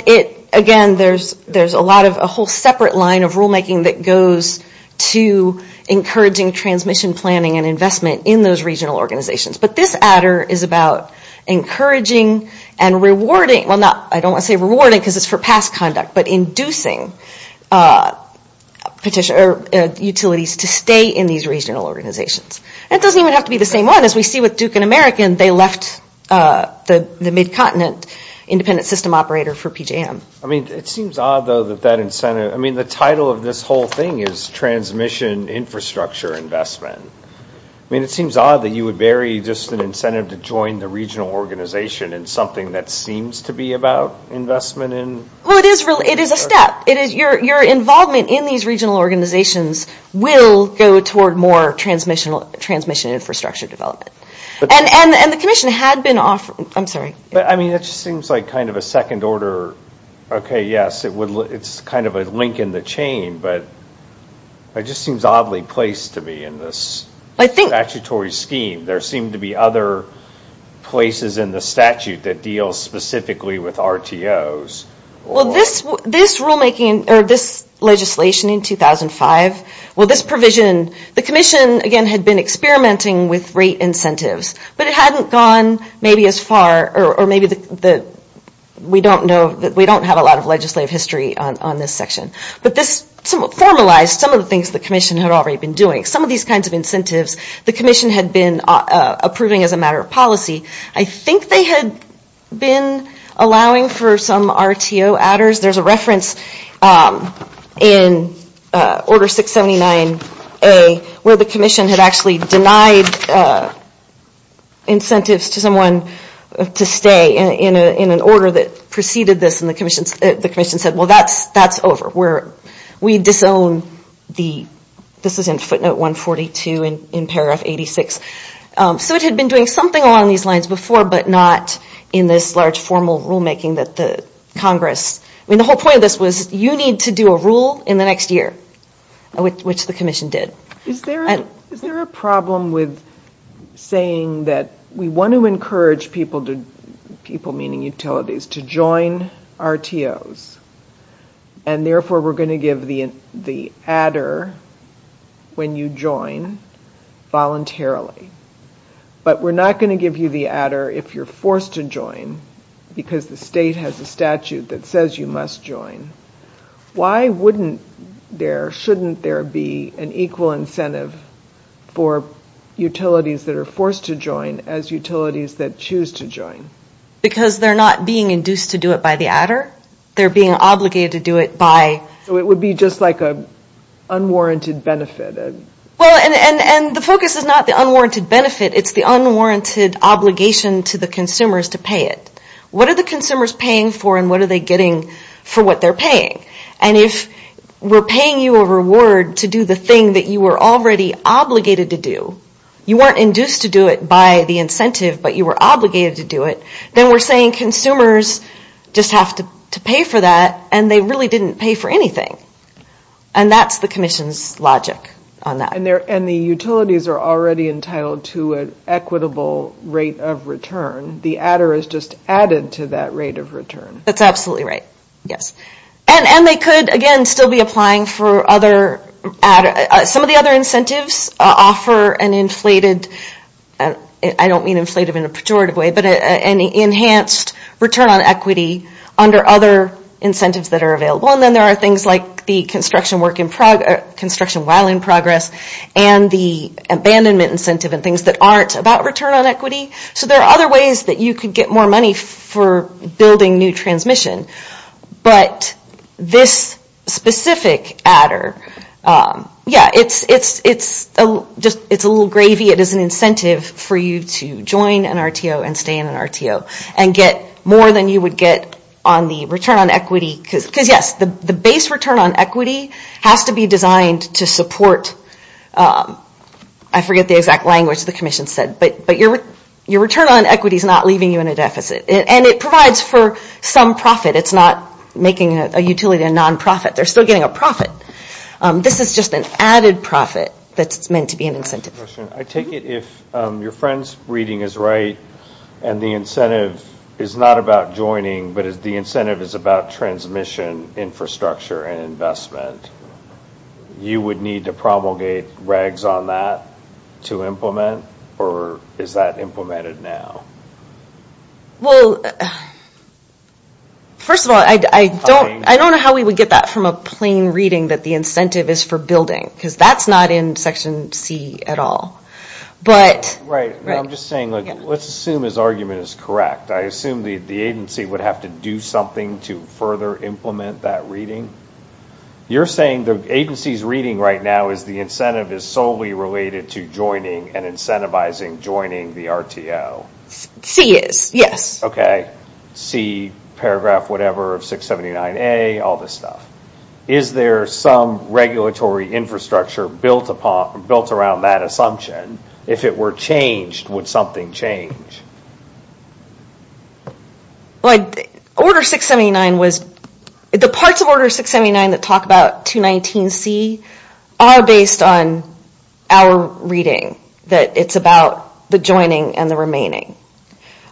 again, there's a whole separate line of rulemaking that goes to encouraging transmission planning and investment in those regional organizations. But this adder is about encouraging and rewarding... Well, not... I don't want to say rewarding because it's for past conduct, but inducing utilities to stay in these regional organizations. And it doesn't even have to be the same one. As we see with Duke and American, they left the mid-continent independent system operator for PJM. I mean, it seems odd, though, that that incentive... I mean, the title of this whole thing is transmission infrastructure investment. I mean, it seems odd that you would bury just an incentive to join the regional organization in something that seems to be about investment in... Well, it is a step. Your involvement in these regional organizations will go toward more transmission infrastructure development. And the Commission had been offering... I'm sorry. But, I mean, it just seems like kind of a second order... Okay, yes, it's kind of a link in the chain. But it just seems oddly placed to me in this statutory scheme. There seem to be other places in the statute that deal specifically with RTOs. Well, this rulemaking or this legislation in 2005... Well, this provision... The Commission, again, had been experimenting with rate incentives. But it hadn't gone maybe as far... Or maybe we don't have a lot of legislative history on this section. But this formalized some of the things the Commission had already been doing. Some of these kinds of incentives, the Commission had been approving as a matter of policy. I think they had been allowing for some RTO adders. There's a reference in Order 679A where the Commission had actually denied incentives to someone to stay in an order that preceded this. And the Commission said, well, that's over. We disown the... This is in footnote 142 in paragraph 86. So it had been doing something along these lines before, but not in this large formal rulemaking that the Congress... I mean, the whole point of this was you need to do a rule in the next year, which the Commission did. Is there a problem with saying that we want to encourage people, people meaning utilities, to join RTOs? And therefore we're going to give the adder when you join voluntarily. But we're not going to give you the adder if you're forced to join because the state has a statute that says you must join. Why wouldn't there... Shouldn't there be an equal incentive for utilities that are forced to join as utilities that choose to join? Because they're not being induced to do it by the adder. They're being obligated to do it by... So it would be just like an unwarranted benefit. Well, and the focus is not the unwarranted benefit. It's the unwarranted obligation to the consumers to pay it. What are the consumers paying for, and what are they getting for what they're paying? And if we're paying you a reward to do the thing that you were already obligated to do, you weren't induced to do it by the incentive, but you were obligated to do it, then we're saying consumers just have to pay for that, and they really didn't pay for anything. And that's the Commission's logic on that. And the utilities are already entitled to an equitable rate of return. The adder is just added to that rate of return. That's absolutely right, yes. And they could, again, still be applying for other adder. Some of the other incentives offer an inflated... I don't mean inflated in a pejorative way, but an enhanced return on equity under other incentives that are available. And then there are things like the construction while in progress and the abandonment incentive and things that aren't about return on equity. So there are other ways that you could get more money for building new transmission. But this specific adder, yeah, it's a little gravy. It is an incentive for you to join an RTO and stay in an RTO and get more than you would get on the return on equity. Because, yes, the base return on equity has to be designed to support, I forget the exact language the Commission said, but your return on equity is not leaving you in a deficit. And it provides for some profit. It's not making a utility a nonprofit. They're still getting a profit. This is just an added profit that's meant to be an incentive. I take it if your friend's reading is right and the incentive is not about joining, but the incentive is about transmission, infrastructure, and investment, you would need to promulgate regs on that to implement? Or is that implemented now? Well, first of all, I don't know how we would get that from a plain reading that the incentive is for building. Because that's not in Section C at all. Right. I'm just saying, let's assume his argument is correct. I assume the agency would have to do something to further implement that reading. You're saying the agency's reading right now is the incentive is solely related to joining and incentivizing joining the RTO? C is, yes. C, paragraph whatever of 679A, all this stuff. Is there some regulatory infrastructure built around that assumption? If it were changed, would something change? Order 679 was, the parts of Order 679 that talk about 219C are based on our reading, that it's about the joining and the remaining.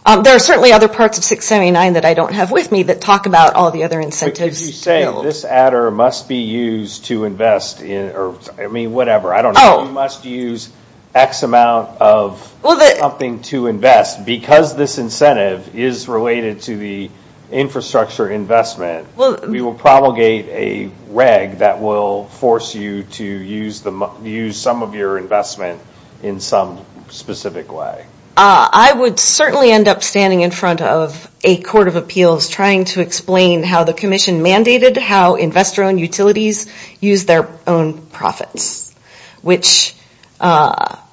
There are certainly other parts of 679 that I don't have with me that talk about all the other incentives. But you say this adder must be used to invest in, I mean, whatever, I don't know. It must use X amount of something to invest. Because this incentive is related to the infrastructure investment, we will propagate a reg that will force you to use some of your investment in some specific way. I would certainly end up standing in front of a court of appeals trying to explain how the commission mandated how investor-owned utilities use their own profits, which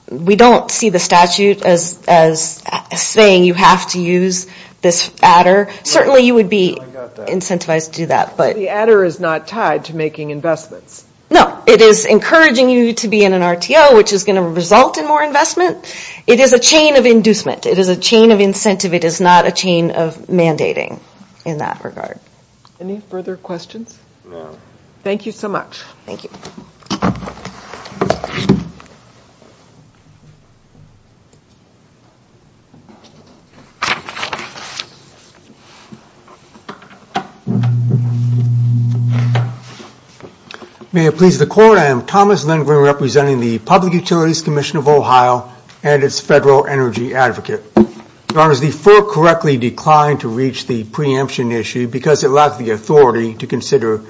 we don't see the statute as saying you have to use this adder. Certainly you would be incentivized to do that. But the adder is not tied to making investments. No, it is encouraging you to be in an RTO, which is going to result in more investment. It is a chain of inducement. It is a chain of incentive. It is not a chain of mandating in that regard. Any further questions? No. Thank you so much. Thank you. May it please the Court, I am Thomas Lindgren representing the Public Utilities Commission of Ohio and its Federal Energy Advocate. Your Honor, the Fort correctly declined to reach the preemption issue because it lacked the authority to consider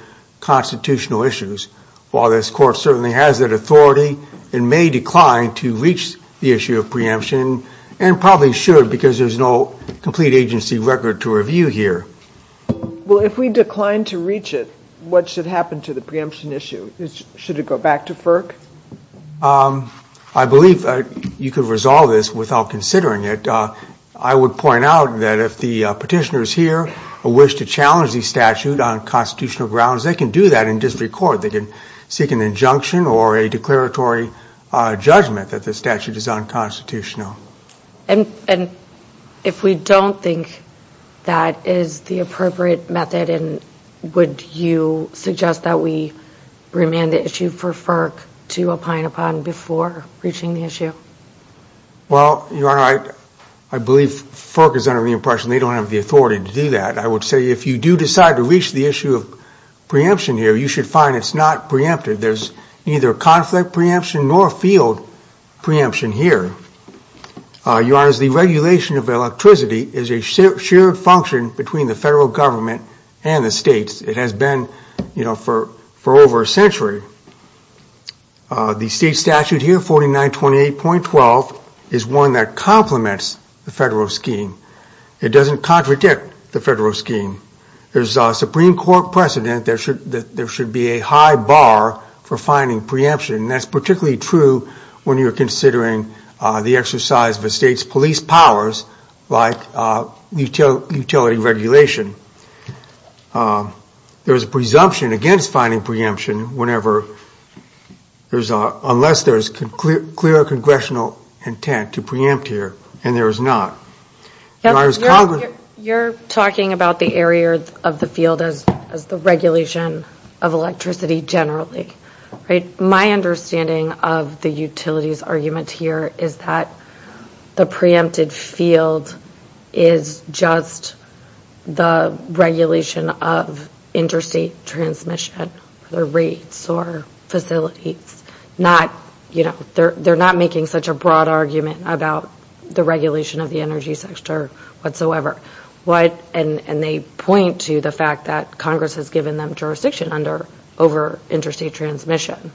constitutional issues. While this Court certainly has that authority, it may decline to reach the issue of preemption and probably should because there is no complete agency record to review. Well, if we decline to reach it, what should happen to the preemption issue? Should it go back to FERC? I believe you could resolve this without considering it. I would point out that if the petitioners here wish to challenge the statute on constitutional grounds, they can do that in district court. They can seek an injunction or a declaratory judgment that the statute is unconstitutional. And if we don't think that is the appropriate method, would you suggest that we remand the issue for FERC to opine upon before reaching the issue? Well, Your Honor, I believe FERC is under the impression they don't have the authority to do that. I would say if you do decide to reach the issue of preemption here, you should find it's not preempted. There's neither conflict preemption nor field preemption here. Your Honor, the regulation of electricity is a shared function between the federal government and the states. It has been for over a century. The state statute here, 4928.12, is one that complements the federal scheme. It doesn't contradict the federal scheme. There's a Supreme Court precedent that there should be a high bar for finding preemption, and that's particularly true when you're considering the exercise of a state's police powers, like utility regulation. There's a presumption against finding preemption unless there's clear congressional intent to preempt here, and there is not. Your Honor, you're talking about the area of the field as the regulation of electricity generally, right? My understanding of the utilities argument here is that the preempted field is just the regulation of interstate transmission, their rates or facilities. They're not making such a broad argument about the regulation of the energy sector whatsoever. And they point to the fact that Congress has given them jurisdiction over interstate transmission.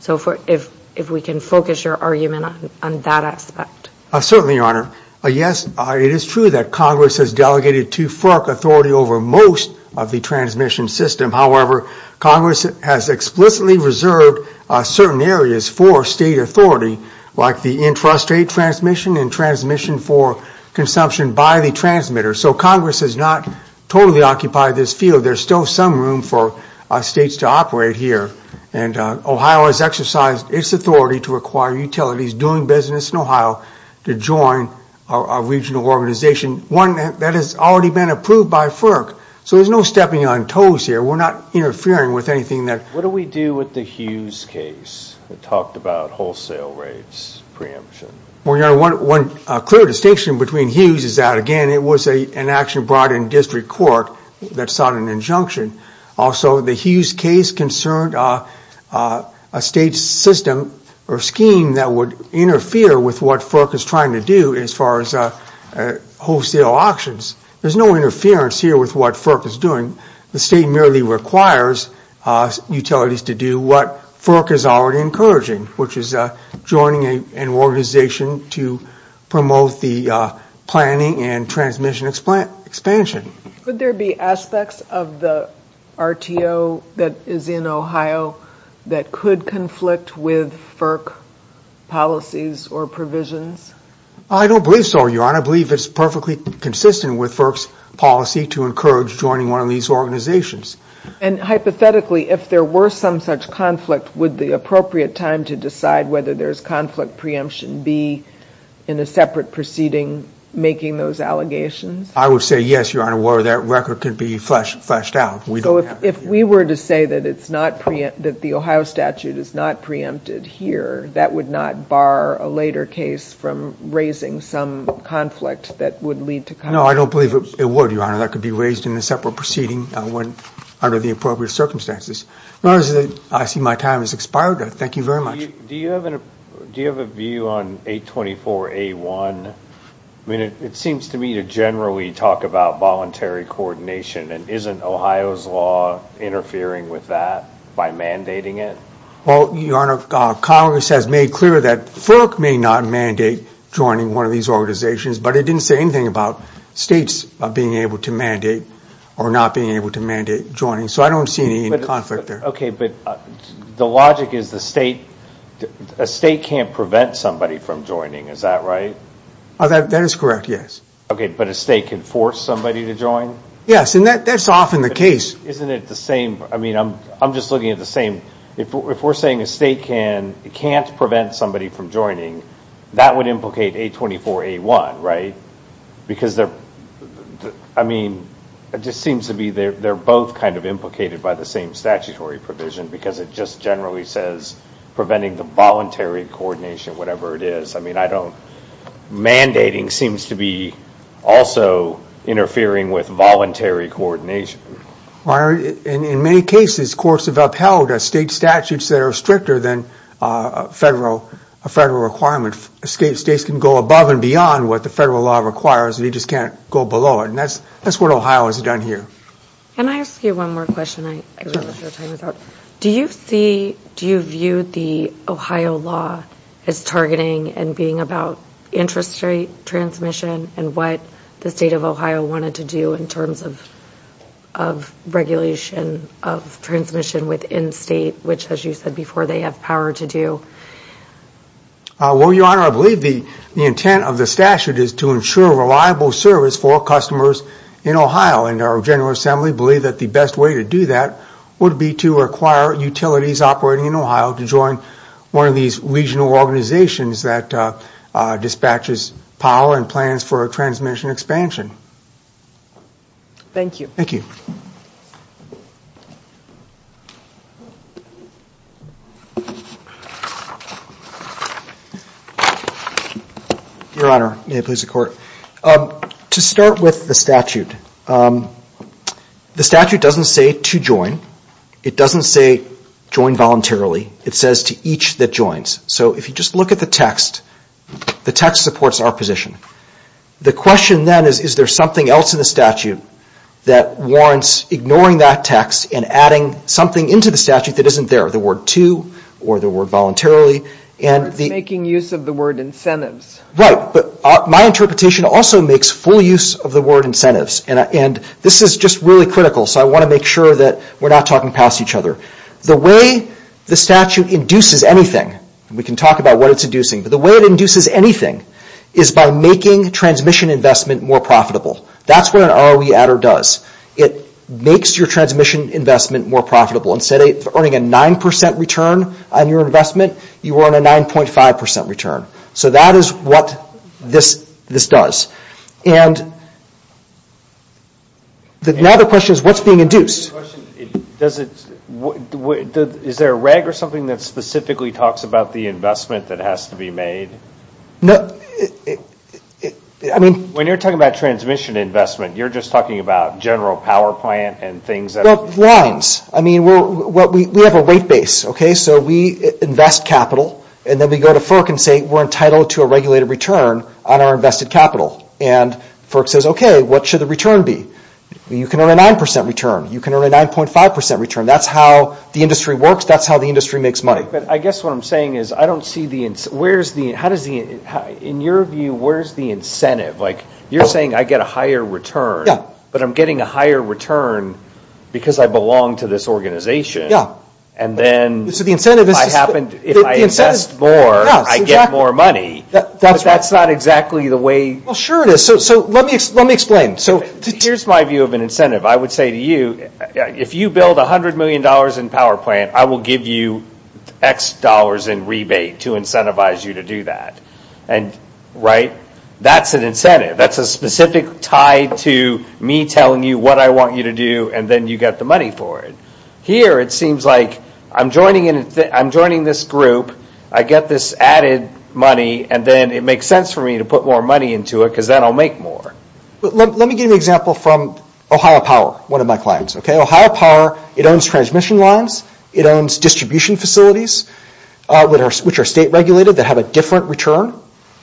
So if we can focus your argument on that aspect. Certainly, Your Honor. Yes, it is true that Congress has delegated too far authority over most of the transmission system. However, Congress has explicitly reserved certain areas for state authority, like the intrastate transmission and transmission for consumption by the transmitter. So Congress has not totally occupied this field. There's still some room for states to operate here, and Ohio has exercised its authority to require utilities doing business in Ohio to join a regional organization, one that has already been approved by FERC. So there's no stepping on toes here. We're not interfering with anything that... What do we do with the Hughes case that talked about wholesale rates preemption? Well, Your Honor, one clear distinction between Hughes is that, again, it was an action brought in district court that sought an injunction. Also, the Hughes case concerned a state system or scheme that would interfere with what FERC is trying to do as far as wholesale auctions. There's no interference here with what FERC is doing. The state merely requires utilities to do what FERC is already encouraging, which is joining an organization to promote the planning and transmission expansion. Could there be aspects of the RTO that is in Ohio that could conflict with FERC policies or provisions? I don't believe so, Your Honor. I believe it's perfectly consistent with FERC's policy to encourage joining one of these organizations. And hypothetically, if there were some such conflict, would the appropriate time to decide whether there's conflict preemption be in a separate proceeding making those allegations? I would say yes, Your Honor, where that record could be fleshed out. So if we were to say that the Ohio statute is not preempted here, that would not bar a later case from raising some conflict that would lead to conflict? No, I don't believe it would, Your Honor. That could be raised in a separate proceeding under the appropriate circumstances. I see my time has expired. Thank you very much. Do you have a view on 824A1? I mean, it seems to me to generally talk about voluntary coordination, and isn't Ohio's law interfering with that by mandating it? Well, Your Honor, Congress has made clear that FERC may not mandate joining one of these organizations, but it didn't say anything about states being able to mandate or not being able to mandate joining. So I don't see any conflict there. Okay, but the logic is a state can't prevent somebody from joining. Is that right? That is correct, yes. Okay, but a state can force somebody to join? Yes, and that's often the case. Isn't it the same? I mean, I'm just looking at the same. If we're saying a state can't prevent somebody from joining, that would implicate 824A1, right? Because, I mean, it just seems to be they're both kind of implicated by the same statutory provision because it just generally says preventing the voluntary coordination, whatever it is. I mean, mandating seems to be also interfering with voluntary coordination. Your Honor, in many cases, courts have upheld state statutes that are stricter than a federal requirement. States can go above and beyond what the federal law requires, and you just can't go below it, and that's what Ohio has done here. Can I ask you one more question? Do you view the Ohio law as targeting and being about interest rate transmission and what the state of Ohio wanted to do in terms of regulation of transmission within state, which, as you said before, they have power to do? Well, Your Honor, I believe the intent of the statute is to ensure reliable service for customers in Ohio, and our General Assembly believe that the best way to do that would be to acquire utilities operating in Ohio to join one of these regional organizations that dispatches power and plans for transmission expansion. Thank you. Thank you. Your Honor, may it please the Court. To start with the statute, the statute doesn't say to join. It doesn't say join voluntarily. It says to each that joins. So if you just look at the text, the text supports our position. The question then is, is there something else in the statute that warrants ignoring that text and adding something into the statute that isn't there, the word to or the word voluntarily? It's making use of the word incentives. Right, but my interpretation also makes full use of the word incentives, and this is just really critical, so I want to make sure that we're not talking past each other. The way the statute induces anything, and we can talk about what it's inducing, but the way it induces anything is by making transmission investment more profitable. That's what an ROE adder does. It makes your transmission investment more profitable. Instead of earning a 9% return on your investment, you earn a 9.5% return. So that is what this does. And now the question is, what's being induced? Is there a reg or something that specifically talks about the investment that has to be made? No, I mean... When you're talking about transmission investment, you're just talking about general power plant and things that... Well, lines. I mean, we have a weight base, okay? So we invest capital, and then we go to FERC and say, we're entitled to a regulated return on our invested capital. And FERC says, okay, what should the return be? You can earn a 9% return. You can earn a 9.5% return. That's how the industry works. That's how the industry makes money. But I guess what I'm saying is, I don't see the... In your view, where's the incentive? Like, you're saying I get a higher return, but I'm getting a higher return because I belong to this organization, and then... So the incentive is... If I invest more, I get more money, but that's not exactly the way... Well, sure it is. So let me explain. Here's my view of an incentive. I would say to you, if you build $100 million in power plant, I will give you X dollars in rebate to incentivize you to do that, right? That's an incentive. That's a specific tie to me telling you what I want you to do, and then you get the money for it. Here, it seems like I'm joining this group, I get this added money, and then it makes sense for me to put more money into it, because then I'll make more. Let me give you an example from Ohio Power, one of my clients. Ohio Power, it owns transmission lines, it owns distribution facilities, which are state regulated, that have a different return,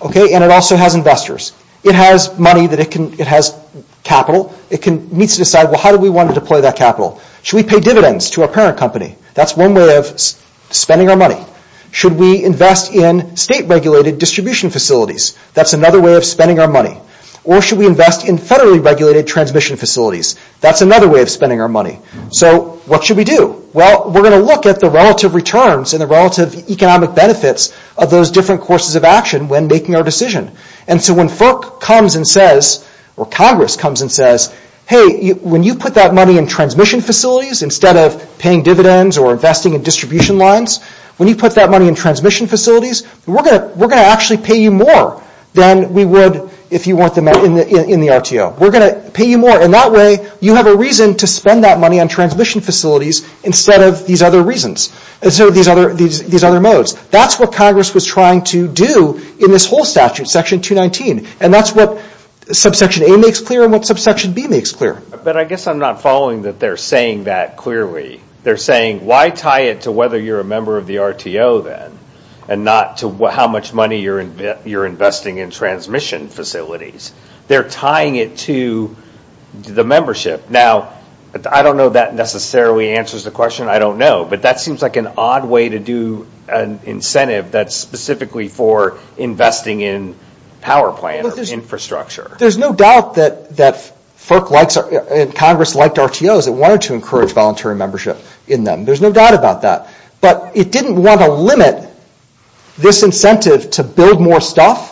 and it also has investors. It has money that it can... It has capital. It needs to decide, well, how do we want to deploy that capital? Should we pay dividends to our parent company? That's one way of spending our money. Should we invest in state regulated distribution facilities? That's another way of spending our money. Or should we invest in federally regulated transmission facilities? That's another way of spending our money. So what should we do? Well, we're going to look at the relative returns and the relative economic benefits of those different courses of action when making our decision. And so when FERC comes and says, or Congress comes and says, hey, when you put that money in transmission facilities instead of paying dividends or investing in distribution lines, when you put that money in transmission facilities, we're going to actually pay you more than we would if you weren't in the RTO. We're going to pay you more. And that way you have a reason to spend that money on transmission facilities instead of these other reasons, instead of these other modes. That's what Congress was trying to do in this whole statute, Section 219. And that's what Subsection A makes clear and what Subsection B makes clear. But I guess I'm not following that they're saying that clearly. They're saying, why tie it to whether you're a member of the RTO then and not to how much money you're investing in transmission facilities? They're tying it to the membership. Now, I don't know if that necessarily answers the question. I don't know. But that seems like an odd way to do an incentive that's specifically for investing in power plant infrastructure. There's no doubt that FERC and Congress liked RTOs and wanted to encourage voluntary membership in them. There's no doubt about that. But it didn't want to limit this incentive to build more stuff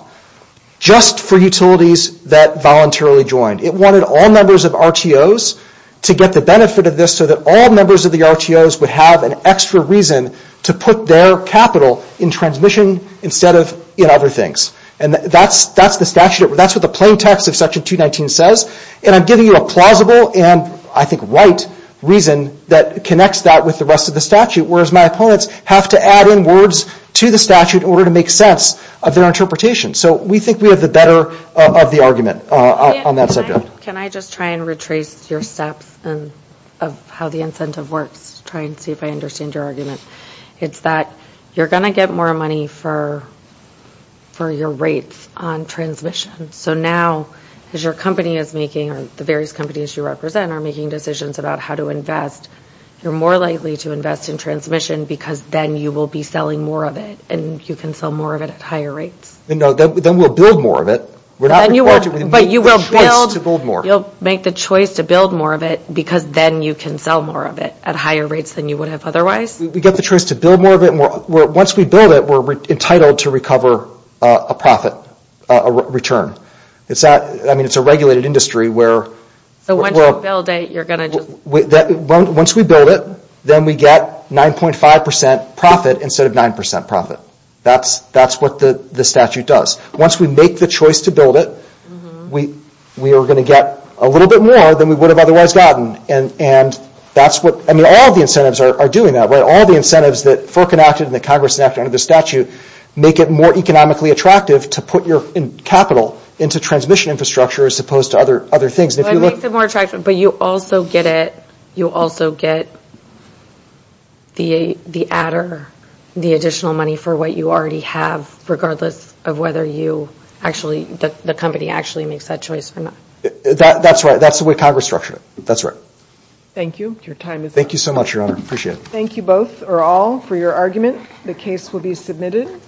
just for utilities that voluntarily joined. It wanted all members of RTOs to get the benefit of this so that all members of the RTOs would have an extra reason to put their capital in transmission instead of in other things. And that's the statute. That's what the plain text of Section 219 says. And I'm giving you a plausible and I think right reason that connects that with the rest of the statute, whereas my opponents have to add in words to the statute in order to make sense of their interpretation. So we think we have the better of the argument on that subject. Can I just try and retrace your steps of how the incentive works to try and see if I understand your argument? It's that you're going to get more money for your rates on transmission. So now as your company is making, or the various companies you represent are making decisions about how to invest, you're more likely to invest in transmission because then you will be selling more of it and you can sell more of it at higher rates. Then we'll build more of it. We're not required to make the choice to build more. You'll make the choice to build more of it because then you can sell more of it at higher rates than you would have otherwise. We get the choice to build more of it. Once we build it, we're entitled to recover a profit, a return. It's a regulated industry where... So once you build it, you're going to just... Once we build it, then we get 9.5% profit instead of 9% profit. That's what the statute does. Once we make the choice to build it, we are going to get a little bit more than we would have otherwise gotten. All the incentives are doing that. All the incentives that FERC enacted and that Congress enacted under the statute make it more economically attractive to put your capital into transmission infrastructure as opposed to other things. It makes it more attractive, but you also get the adder, the additional money for what you already have regardless of whether the company actually makes that choice or not. That's right. That's the way Congress structured it. That's right. Thank you. Your time is up. Thank you so much, Your Honor. I appreciate it. Thank you both or all for your argument. The case will be submitted.